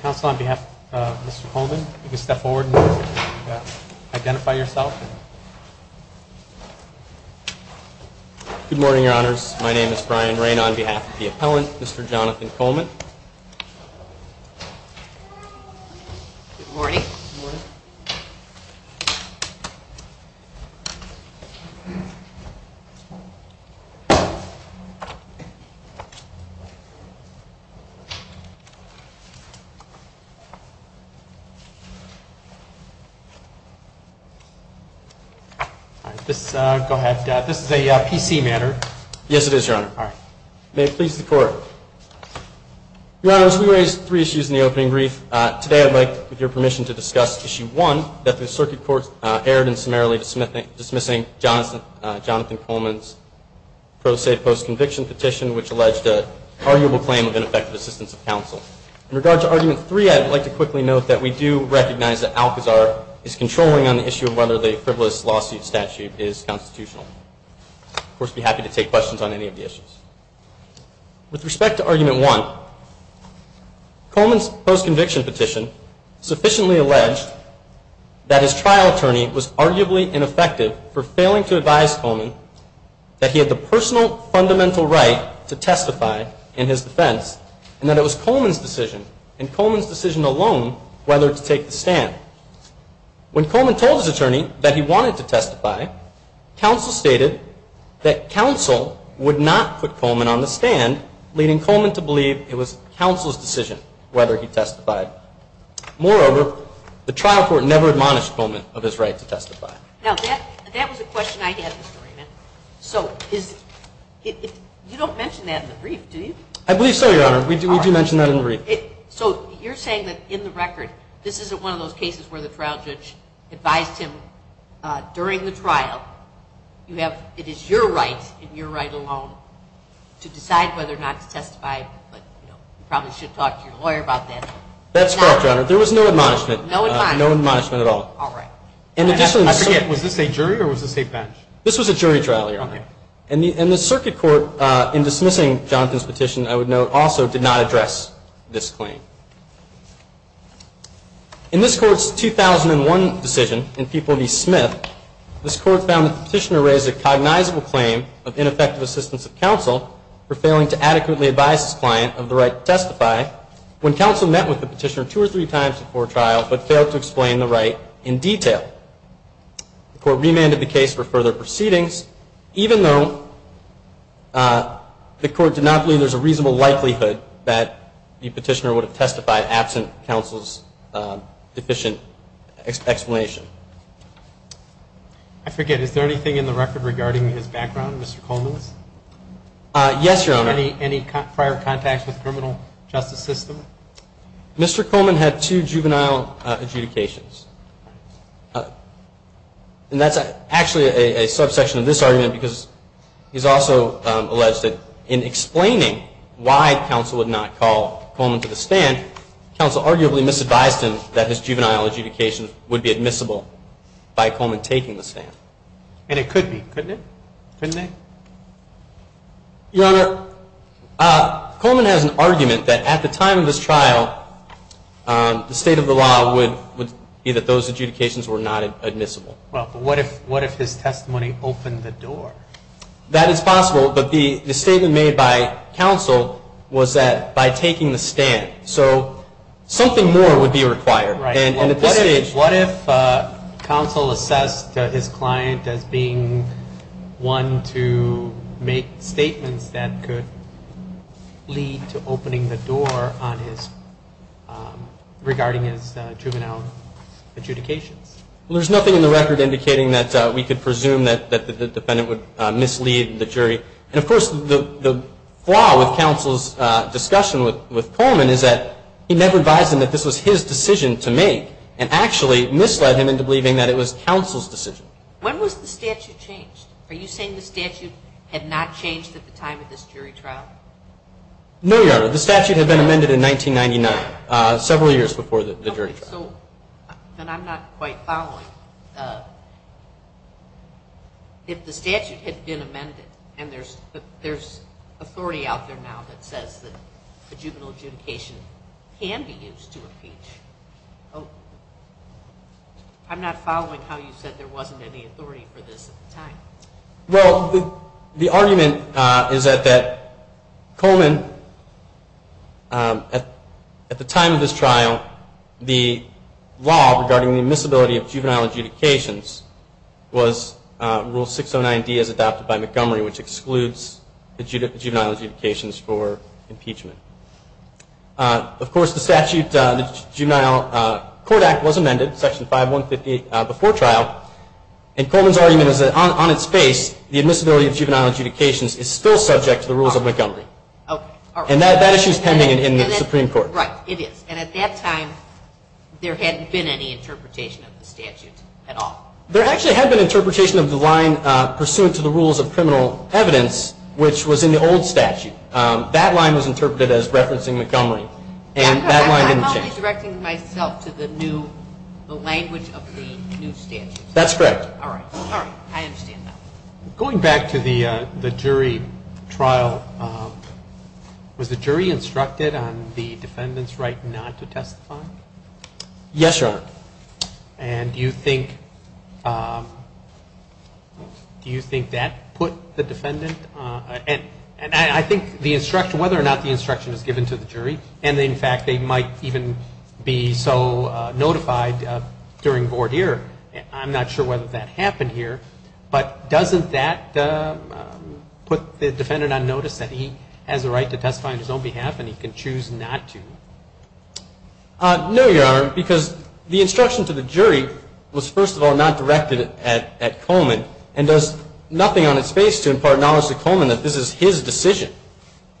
Council on behalf of Mr. Coleman, you can step forward and identify yourself. Good morning, your honors. My name is Brian Rayne on behalf of the appellant, Mr. Jonathan Coleman. Good morning. Go ahead. This is a PC matter. Yes, it is, your honor. May it please the Your honors, we raised three issues in the opening brief. Today, I'd like, with your permission, to discuss issue one, that the circuit court erred in summarily dismissing Jonathan Coleman's pro se post conviction petition, which alleged an arguable claim of ineffective assistance of counsel. In regard to argument three, I'd like to quickly note that we do recognize that Alcazar is controlling on the issue of whether the frivolous lawsuit statute is constitutional. Of course, I'd be happy to take questions on any of the issues. With respect to argument one, Coleman's post conviction petition sufficiently alleged that his trial attorney was arguably ineffective for failing to advise Coleman that he had the personal fundamental right to testify in his defense, and that it was Coleman's decision, and Coleman's decision alone, whether to take the stand. When Coleman told his attorney that he wanted to testify, counsel stated that counsel would not put Coleman on the stand, leading Coleman to believe it was counsel's decision whether he testified. Moreover, the trial court never admonished Coleman of his right to testify. Now, that was a question I had, Mr. Raymond. So, you don't mention that in the brief, do you? I believe so, your honor. We do mention that in the brief. So, you're saying that in the record, this isn't one of those cases where the trial judge advised him during the trial, you have, it is your right and your right alone to decide whether or not to testify, but you probably should talk to your lawyer about that. That's correct, your honor. There was no admonishment. No admonishment. No admonishment at all. All right. In addition, I forget, was this a jury or was this a bench? This was a jury trial, your honor. And the circuit court, in dismissing Jonathan's petition, I would note, also did not address this claim. In this court's 2001 decision in Peabody Smith, this court found that the petitioner raised a cognizable claim of ineffective assistance of counsel for failing to adequately advise his client of the right to testify when counsel met with the petitioner two or three times before trial, but failed to explain the right in detail. The court remanded the case for further proceedings, even though the court did not believe there's a reasonable likelihood that the petitioner would have testified absent counsel's deficient explanation. I forget, is there anything in the record regarding his background, Mr. Coleman's? Yes, your honor. Any prior contact with the criminal justice system? Mr. Coleman had two juvenile adjudications. And that's actually a subsection of this argument, because he's also alleged that in explaining why counsel would not call Coleman to the stand, counsel arguably misadvised him that his juvenile adjudication would be admissible by Coleman taking the stand. And it could be, couldn't it? Couldn't it? Your honor, Coleman has an argument that at the time of his trial, the state of the law would be that those adjudications were not admissible. Well, but what if his testimony opened the door? That is possible, but the statement made by counsel was that by taking the stand. So something more would be required. What if counsel assessed his client as being one to make statements that could lead to opening the door on his, regarding his juvenile adjudications? Well, there's nothing in the record indicating that we could presume that the defendant would mislead the jury. And of course, the flaw with counsel's discussion with Coleman is that he never advised him that this was his decision to make, and actually misled him into believing that it was counsel's decision. When was the statute changed? Are you saying the statute had not changed at the time of this jury trial? No, your honor. The statute had been amended in 1999, several years before the jury trial. Then I'm not quite following. If the statute had been amended, and there's authority out there now that says that the juvenile adjudication can be used to impeach, I'm not following how you said there wasn't any authority for this at the time. Well, the argument is that Coleman, at the time of this trial, the law regarding the admissibility of juvenile adjudications was Rule 609D as adopted by Montgomery, which excludes the juvenile adjudications for impeachment. Of course, the statute, the Juvenile Court Act was amended, Section 5158, before trial. And Coleman's argument is that on its face, the admissibility of juvenile adjudications is still subject to the rules of Montgomery. Okay. And that issue is pending in the Supreme Court. Right. It is. And at that time, there hadn't been any interpretation of the statute at all. There actually had been interpretation of the line pursuant to the rules of criminal evidence, which was in the old statute. That line was interpreted as referencing Montgomery. And that line didn't change. I'm only directing myself to the new, the language of the new statute. That's correct. All right. All right. I understand now. Going back to the jury trial, was the jury instructed on the defendant's right not to testify? Yes, Your Honor. And do you think, do you think that put the defendant, and I think the instruction, whether or not the instruction was given to the jury, and in fact, they might even be so notified during the court hearing, I'm not sure whether that happened here, but doesn't that put the defendant on notice that he has a right to testify on his own behalf and he can choose not to? No, Your Honor, because the instruction to the jury was first of all not directed at Coleman and does nothing on its face to impart knowledge to Coleman that this is his decision.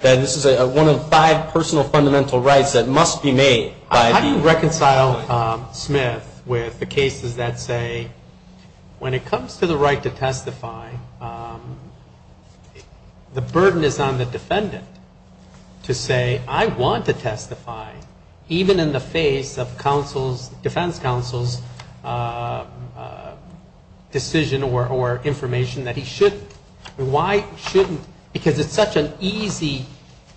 That this is one of five personal fundamental rights that must be made. How do you reconcile Smith with the cases that say when it comes to the right to testify, the burden is on the defendant to say, I want to testify, even in the face of counsel's, defense counsel's decision or information that he shouldn't. Why shouldn't, because it's such an easy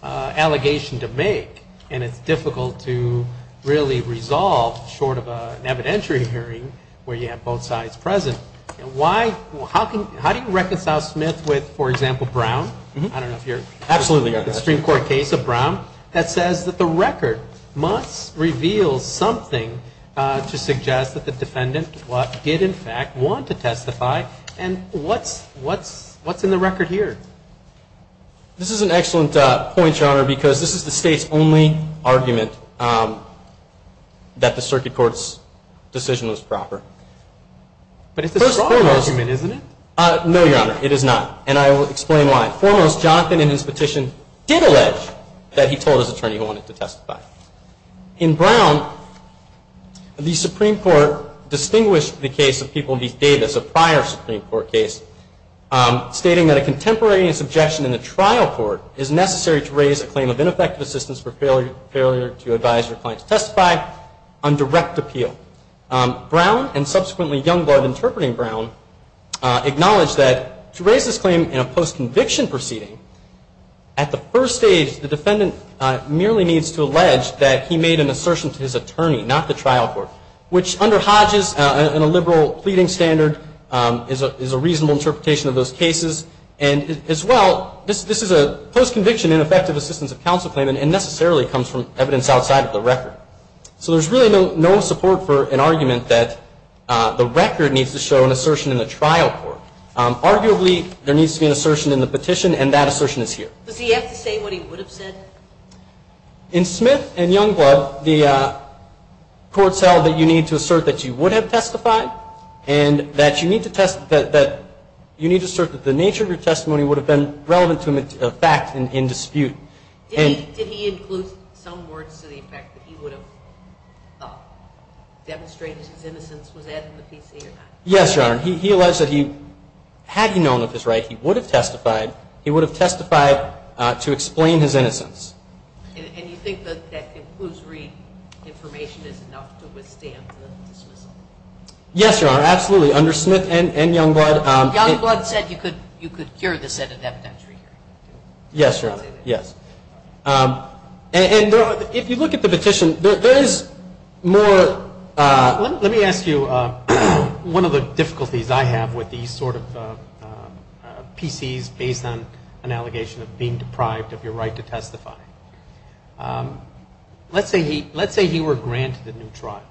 allegation to make and it's difficult to, you know, really resolve short of an evidentiary hearing where you have both sides present. Why, how can, how do you reconcile Smith with, for example, Brown? I don't know if you're, the Supreme Court case of Brown that says that the record must reveal something to suggest that the defendant did in fact want to testify and what's, what's in the record here? This is an excellent point, Your Honor, because this is the state's only argument that the circuit court's decision was proper. But it's a broad argument, isn't it? No, Your Honor, it is not and I will explain why. Foremost, Jonathan in his petition did allege that he told his attorney he wanted to testify. In Brown, the Supreme Court distinguished the case of People v. Davis, a prior Supreme Court case, stating that a contemporaneous objection in the trial court is necessary to raise a claim of ineffective assistance for failure to advise your client to testify on direct appeal. Brown, and subsequently Youngblood interpreting Brown, acknowledged that to raise this claim in a post-conviction proceeding, at the first stage, the defendant merely needs to allege that he made an assertion to his attorney, not the trial court, which under Hodges and a liberal pleading standard is a reasonable interpretation of those cases. And as well, this is a post-conviction ineffective assistance of counsel claim and necessarily comes from evidence outside of the record. So there's really no support for an argument that the record needs to show an assertion in the trial court. Arguably, there needs to be an assertion in the petition and that assertion is here. Does he have to say what he would have said? In Smith and Youngblood, the court said that you need to assert that you would have testified and that you need to assert that the nature of your testimony would have been relevant to a fact in dispute. Did he include some words to the effect that he would have demonstrated his innocence? Was that in the PC or not? Yes, Your Honor. He alleged that had he known of his right, he would have testified to explain his innocence. And you think that that conclusory information is enough to withstand the dismissal? Yes, Your Honor. Absolutely. Under Smith and Youngblood. Youngblood said you could hear this at an evidentiary hearing. Yes, Your Honor. Yes. And if you look at the petition, there is more. Let me ask you one of the difficulties I have with these sort of PCs based on an allegation of being deprived of your right to testify. Let's say he were granted a new trial.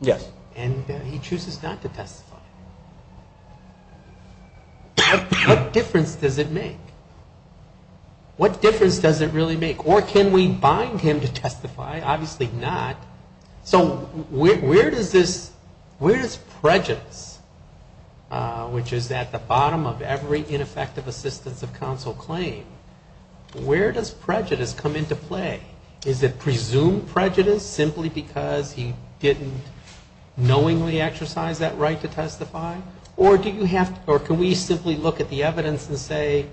Yes. And he chooses not to testify. What difference does it make? What difference does it really make? Or can we bind him to testify? Obviously not. So where does prejudice, which is at the bottom of every ineffective assistance of counsel claim, where does prejudice come into play? Is it presumed prejudice simply because he didn't knowingly exercise that right to testify? Or can we simply look at the evidence and say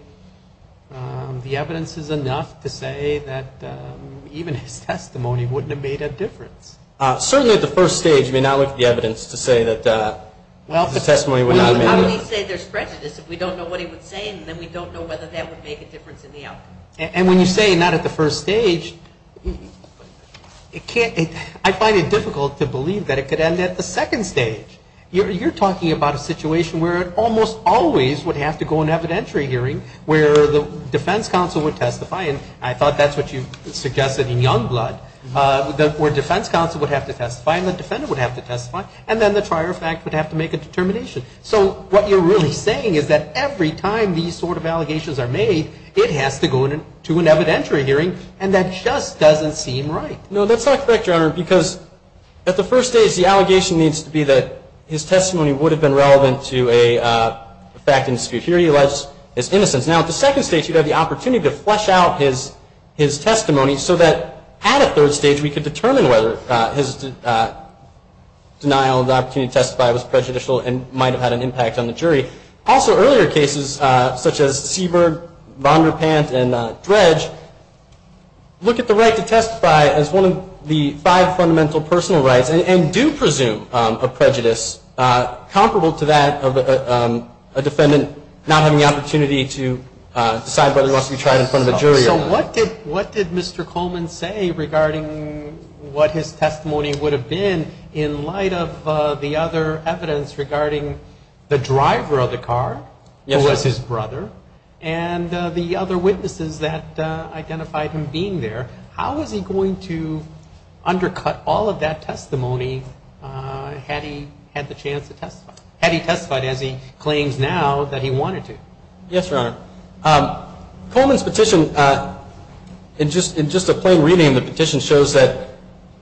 the evidence is enough to say that even his testimony wouldn't have made a difference? Certainly at the first stage, you may not look at the evidence to say that the testimony would not have made a difference. Well, how do we say there's prejudice if we don't know what he would say and then we don't know whether that would make a difference in the outcome? And when you say not at the first stage, I find it difficult to believe that it could end at the second stage. You're talking about a situation where it almost always would have to go in evidentiary hearing where the defense counsel would testify and I thought that's what you suggested in Youngblood, where defense counsel would have to testify and the defendant would have to testify and then the trier of fact would have to make a determination. So what you're really saying is that every time these sort of allegations are made, it has to go to an evidentiary hearing and that just doesn't seem right. No, that's not correct, Your Honor, because at the first stage, the allegation needs to be that his testimony would have been relevant to a fact and dispute. Here he alleged his innocence. Now, at the second stage, you'd have the opportunity to flesh out his testimony so that at a third stage, we could determine whether his denial of the opportunity to testify was prejudicial and might have had an impact on the jury. Also, earlier cases such as Seberg, Vonderpant, and Dredge look at the right to testify as one of the five fundamental personal rights and do presume a prejudice comparable to that of a defendant not having the opportunity to decide whether he wants to be tried in front of a jury or not. So what did Mr. Coleman say regarding what his testimony would have been in light of the other cases? There was other evidence regarding the driver of the car, who was his brother, and the other witnesses that identified him being there. How was he going to undercut all of that testimony had he had the chance to testify, had he testified as he claims now that he wanted to? Yes, Your Honor. Coleman's petition, in just a plain reading of the petition, shows that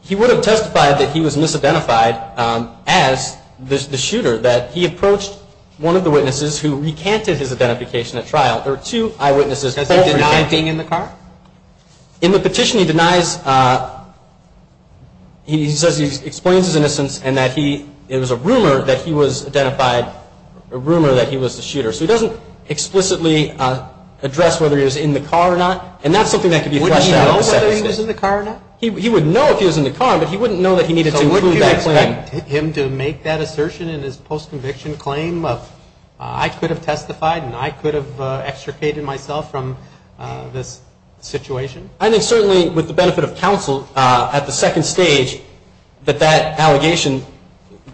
he would have testified that he was misidentified as the shooter, that he approached one of the witnesses who recanted his identification at trial. There were two eyewitnesses. In the petition, he says he explains his innocence and that it was a rumor that he was identified, a rumor that he was the shooter. So he doesn't explicitly address whether he was in the car or not, and that's something that could be fleshed out. Wouldn't he know whether he was in the car or not? He would know if he was in the car, but he wouldn't know that he needed to include that claim. So wouldn't you expect him to make that assertion in his post-conviction claim of, I could have testified and I could have extricated myself from this situation? I think certainly, with the benefit of counsel, at the second stage, that that allegation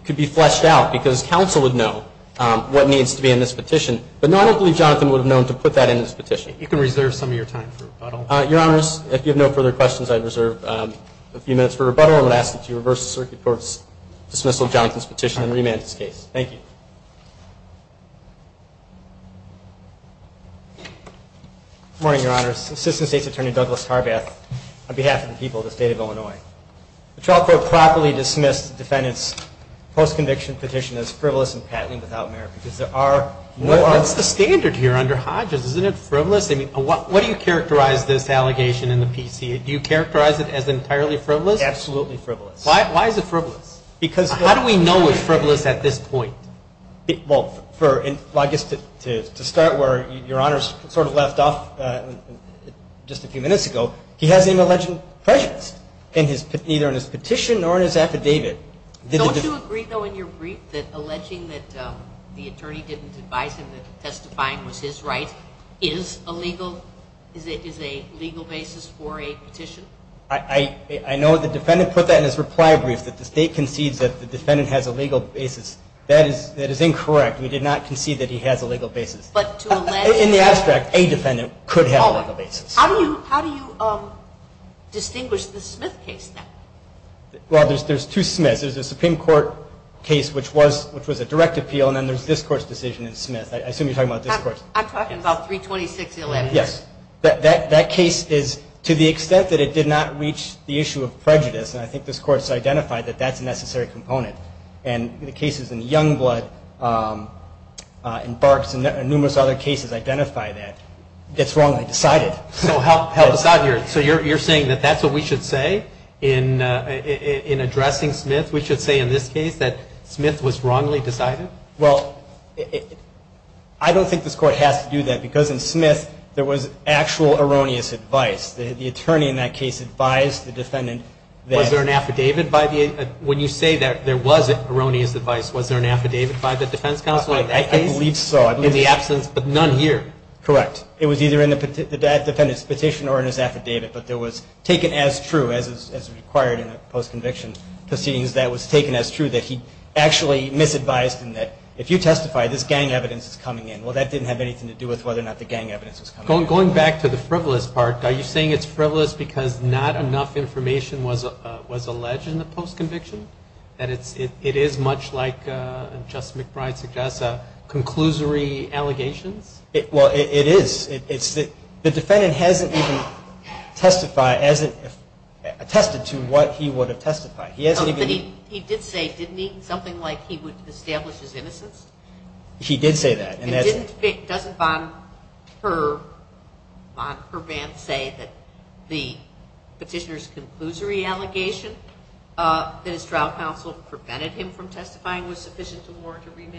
could be fleshed out, because counsel would know what needs to be in this petition. But no, I don't believe Jonathan would have known to put that in his petition. You can reserve some of your time for rebuttal. Your Honors, if you have no further questions, I reserve a few minutes for rebuttal and would ask that you reverse the circuit court's dismissal of Jonathan's petition and remand his case. Thank you. Good morning, Your Honors. Assistant State's Attorney Douglas Tarbath, on behalf of the people of the State of Illinois. The trial court properly dismissed the defendant's post-conviction petition as frivolous and patently without merit, because there are no other. That's the standard here under Hodges. Isn't it frivolous? What do you characterize this allegation in the PC? Do you characterize it as entirely frivolous? Absolutely frivolous. Why is it frivolous? How do we know it's frivolous at this point? Well, I guess to start where Your Honors sort of left off just a few minutes ago, he has an alleged prejudice, either in his petition or in his affidavit. Don't you agree, though, in your brief that alleging that the attorney didn't advise him that testifying was his right is a legal basis for a petition? I know the defendant put that in his reply brief, that the State concedes that the defendant has a legal basis. That is incorrect. We did not concede that he has a legal basis. In the abstract, a defendant could have a legal basis. How do you distinguish the Smith case now? Well, there's two Smiths. There's a Supreme Court case, which was a direct appeal, and then there's this Court's decision in Smith. I assume you're talking about this Court's case. I'm talking about 326-11. Yes. That case is, to the extent that it did not reach the issue of prejudice, and I think this Court's identified that that's a necessary component. And the cases in Youngblood and Barks and numerous other cases identify that. So help us out here. So you're saying that that's what we should say in addressing Smith? We should say in this case that Smith was wrongly decided? Well, I don't think this Court has to do that, because in Smith there was actual erroneous advice. The attorney in that case advised the defendant that... It was either in the defendant's petition or in his affidavit, but it was taken as true, as required in a post-conviction proceedings, that it was taken as true, that he actually misadvised and that if you testify, this gang evidence is coming in. Well, that didn't have anything to do with whether or not the gang evidence was coming in. Going back to the frivolous part, are you saying it's frivolous because not enough information was alleged in the post-conviction? That it is much like, as Justice McBride suggests, conclusory allegations? Well, it is. The defendant hasn't even testified, hasn't attested to what he would have testified. But he did say, didn't he, something like he would establish his innocence? He did say that. And doesn't Van Herbant say that the petitioner's conclusory allegation that his trial counsel prevented him from testifying was sufficient to warrant a remand?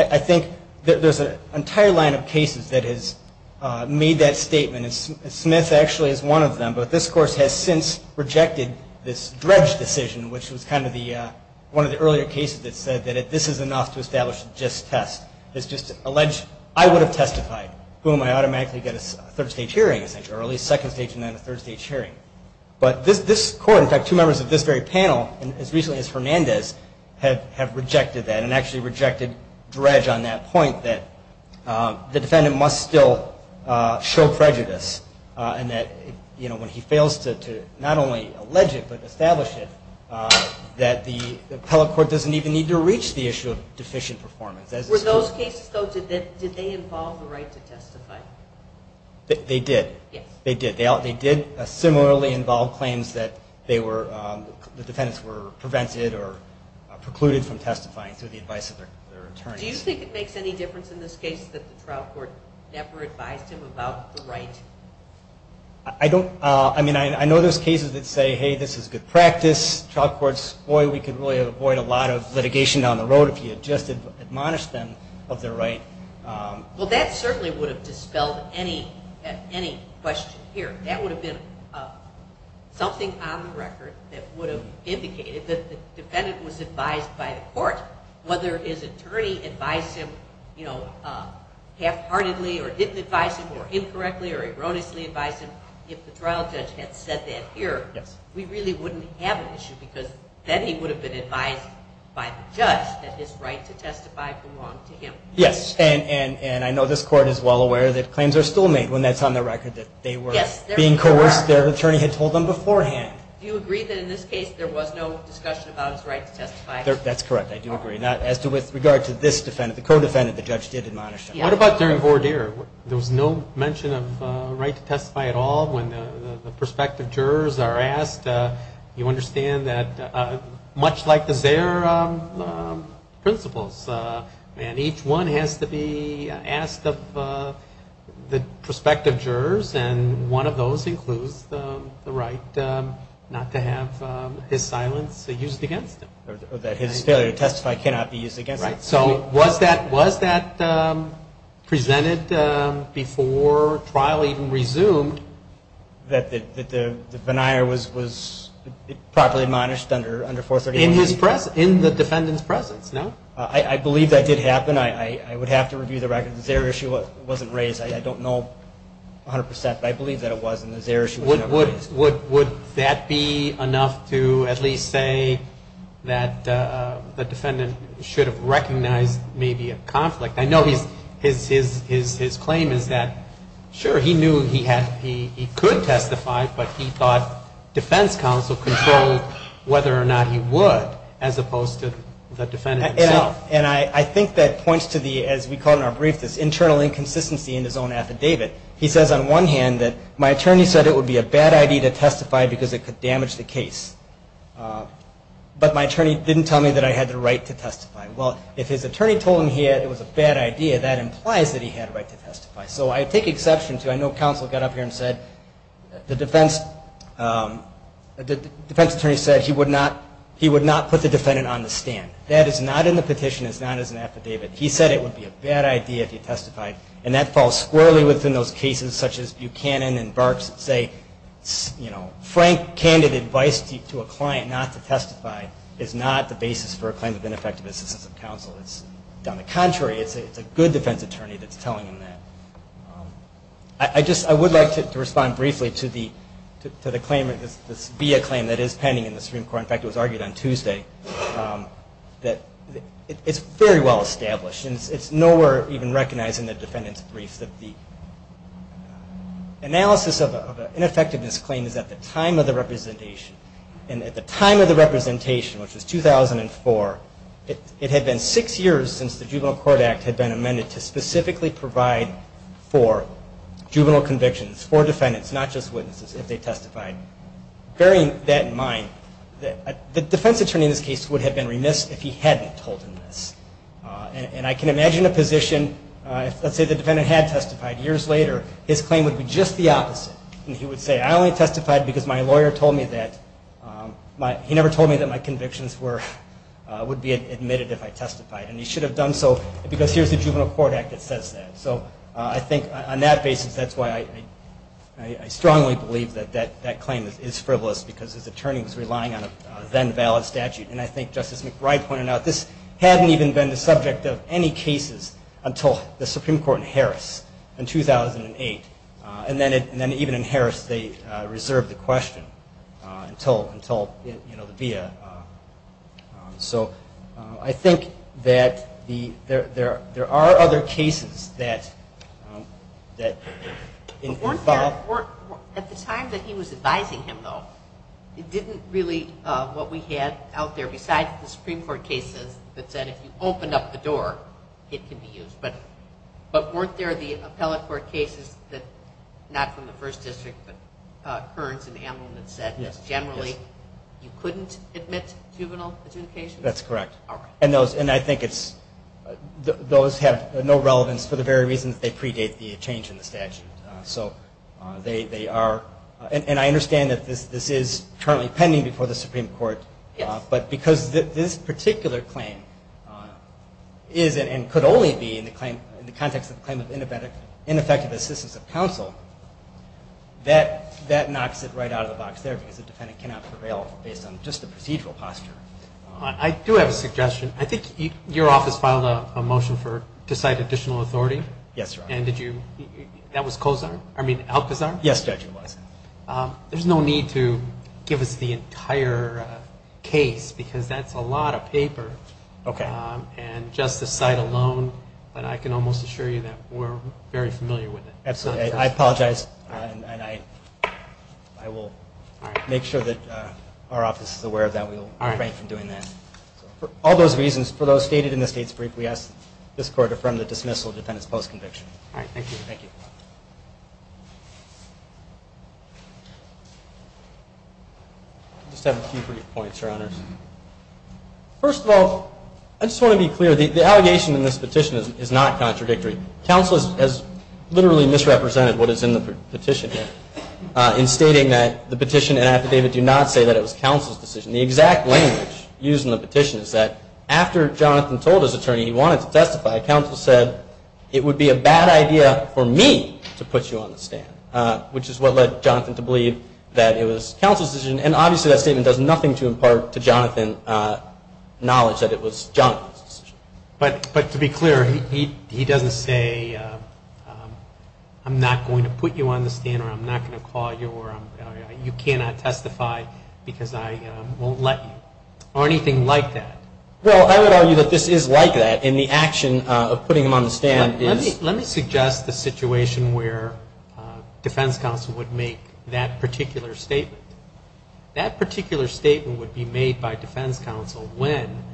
I think there's an entire line of cases that has made that statement. Smith actually is one of them, but this Court has since rejected this dredge decision, which was one of the earlier cases that said that this is enough to establish a just test. It's just alleged, I would have testified, boom, I automatically get a third stage hearing, or at least second stage and then a third stage hearing. But this Court, in fact, two members of this very panel, as recently as Hernandez, have rejected that and actually rejected dredge on that point that the defendant must still show prejudice. And that when he fails to not only allege it, but establish it, that the appellate court doesn't even need to reach the issue of deficient performance. Were those cases, though, did they involve the right to testify? They did. They did. They did similarly involve claims that the defendants were prevented or precluded from testifying through the advice of their attorneys. Do you think it makes any difference in this case that the trial court never advised him about the right? I don't. I mean, I know there's cases that say, hey, this is good practice. Trial courts, boy, we could really avoid a lot of litigation down the road if you had just admonished them of their right. Well, that certainly would have dispelled any question here. That would have been something on the record that would have indicated that the defendant was advised by the court, whether his attorney advised him, you know, half-heartedly or didn't advise him, or incorrectly or erroneously advised him. If the trial judge had said that here, we really wouldn't have an issue, because then he would have been advised by the judge that his right to testify belonged to him. Yes, and I know this court is well aware that claims are still made when that's on the record that they were being coerced. Their attorney had told them beforehand. Do you agree that in this case there was no discussion about his right to testify? That's correct. I do agree. As to with regard to this defendant, the co-defendant, the judge did admonish him. What about during voir dire? There was no mention of right to testify at all? When the prospective jurors are asked, you understand that much like the Zayer principles, and each one has to be asked of the prospective jurors, and one of those includes the right not to have his silence used against him. Or that his failure to testify cannot be used against him. So was that presented before trial even resumed? That the venire was properly admonished under 431? In the defendant's presence, no? I believe that did happen. I would have to review the record. The Zayer issue wasn't raised. I don't know 100%, but I believe that it was, and the Zayer issue was never raised. Would that be enough to at least say that the defendant should have recognized maybe a conflict? I know his claim is that, sure, he knew he could testify, but he thought defense counsel controlled whether or not he would, as opposed to the defendant himself. And I think that points to the, as we call it in our brief, this internal inconsistency in his own affidavit. He says on one hand that, my attorney said it would be a bad idea to testify because it could damage the case. But my attorney didn't tell me that I had the right to testify. Well, if his attorney told him it was a bad idea, that implies that he had a right to testify. So I take exception to, I know counsel got up here and said, the defense attorney said he would not put the defendant on the stand. That is not in the petition, it's not as an affidavit. He said it would be a bad idea if he testified, and that falls squarely within those cases such as Buchanan and Barks say, frank, candid advice to a client not to testify is not the basis for a claim of ineffective assistance of counsel. It's on the contrary, it's a good defense attorney that's telling him that. I would like to respond briefly to the Zayer claim that is pending in the Supreme Court. In fact, it was argued on Tuesday that it's very well established. It's nowhere even recognized in the defendant's brief that the analysis of an ineffectiveness claim is at the time of the representation, and at the time of the representation, which was 2004, it had been six years since the Juvenile Court Act had been amended to specifically provide for juvenile convictions for defendants, not just witnesses, if they testified. Bearing that in mind, the defense attorney in this case would have been remiss if he hadn't told him this. And I can imagine a position, let's say the defendant had testified years later, his claim would be just the opposite. He would say, I only testified because my lawyer told me that, he never told me that my convictions would be admitted if I testified, and he should have done so because here's the Juvenile Court Act that says that. So I think on that basis, that's why I strongly believe that that claim is frivolous, because his attorney was relying on a then-valid statute, and I think Justice McBride pointed out this hadn't even been the subject of any cases until the Supreme Court in Harris in 2008. And then even in Harris, they reserved the question until the via. So I think that there are other cases that involve... At the time that he was advising him, though, it didn't really, what we had out there besides the Supreme Court cases that said if you opened up the door, it could be used. But weren't there the appellate court cases that, not from the First District, but Kearns and Amlin that said generally you couldn't admit juvenile adjudication? That's correct. And I think those have no relevance for the very reason that they predate the change in the statute. So they are, and I understand that this is currently pending before the Supreme Court, but because this particular claim is, and could only be in the context of the claim of ineffective assistance of counsel, that knocks it right out of the box there because the defendant cannot prevail based on just the procedural posture. I do have a suggestion. I think your office filed a motion to cite additional authority? Yes, Your Honor. And did you, that was Alcazar? Yes, Judge, it was. There's no need to give us the entire case because that's a lot of paper. Okay. And just the cite alone, but I can almost assure you that we're very familiar with it. Absolutely. I apologize. And I will make sure that our office is aware of that. We will refrain from doing that. For all those reasons, for those stated in the State's brief, we ask that this Court affirm the dismissal of the defendant's post-conviction. I just have a few brief points, Your Honors. First of all, I just want to be clear, the allegation in this petition is not contradictory. Counsel has literally misrepresented what is in the petition here in stating that the petition and affidavit do not say that it was counsel's decision. The exact language used in the petition is that after Jonathan told his attorney he wanted to testify, counsel said, it would be a bad idea for me to put you on the stand, which is what led Jonathan to believe that it was counsel's decision. And obviously that statement does nothing to impart to Jonathan knowledge that it was Jonathan's decision. But to be clear, he doesn't say, I'm not going to put you on the stand, or I'm not going to call you, or you cannot testify because I won't let you, or anything like that. Well, I would argue that this is like that, and the action of putting him on the stand is... Let me suggest the situation where defense counsel would make that particular statement. That particular statement would be made by defense counsel when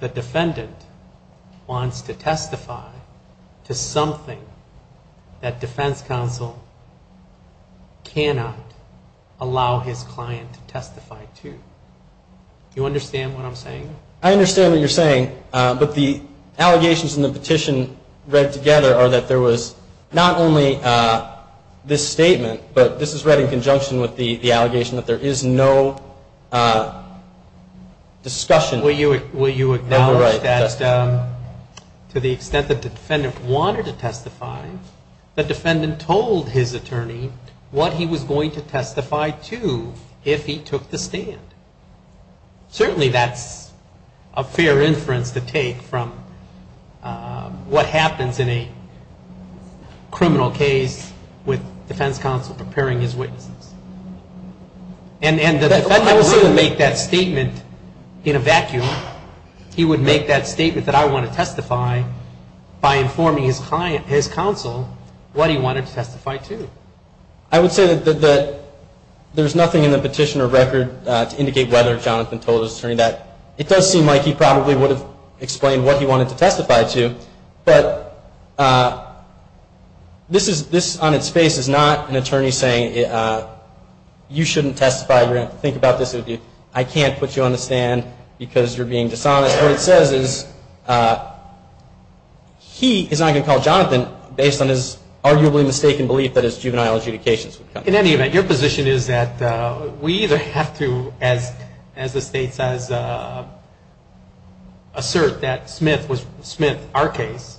the defendant wants to testify to something that defense counsel cannot allow his client to testify to. Do you understand what I'm saying? I understand what you're saying, but the allegations in the petition read together are that there was not only this statement, but this is read in conjunction with the allegation that there is no discussion... Well, you acknowledge that to the extent that the defendant wanted to testify, the defendant told his attorney what he was going to testify to if he took the stand. Certainly that's a fair inference to take from what happens in a criminal case with defense counsel preparing his witnesses. And the defendant wouldn't make that statement in a vacuum. He would make that statement that I want to testify by informing his counsel what he wanted to testify to. I would say that there's nothing in the petition or record to indicate whether Jonathan told his attorney that. It does seem like he probably would have explained what he wanted to testify to, but this on its face is not an attorney saying you shouldn't testify, you're going to have to think about this. I can't put you on the stand because you're being dishonest. What it says is he is not going to call Jonathan based on his arguably mistaken belief that his juvenile adjudications. In any event, your position is that we either have to, as the states assert, that Smith, our case,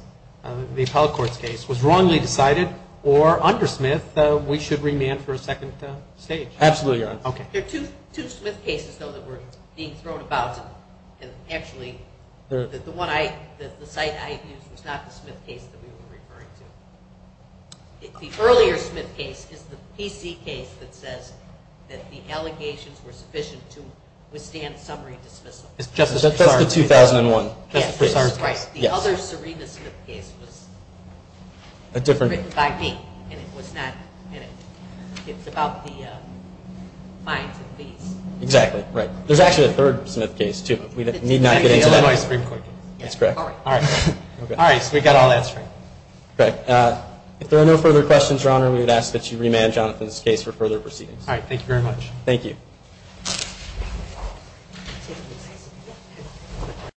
the appellate court's case, was wrongly decided, or under Smith we should remand for a second stage. There are two Smith cases that were being thrown about. The site I used was not the Smith case that we were referring to. The earlier Smith case is the PC case that says that the allegations were sufficient to withstand summary dismissal. That's the 2001. The other Serena Smith case was written by me, and it's about the fines and fees. There's actually a third Smith case too, but we need not get into that. All right, so we've got all that straight. If there are no further questions, Your Honor, we would ask that you remand Jonathan's case for further proceedings. All right, thank you very much.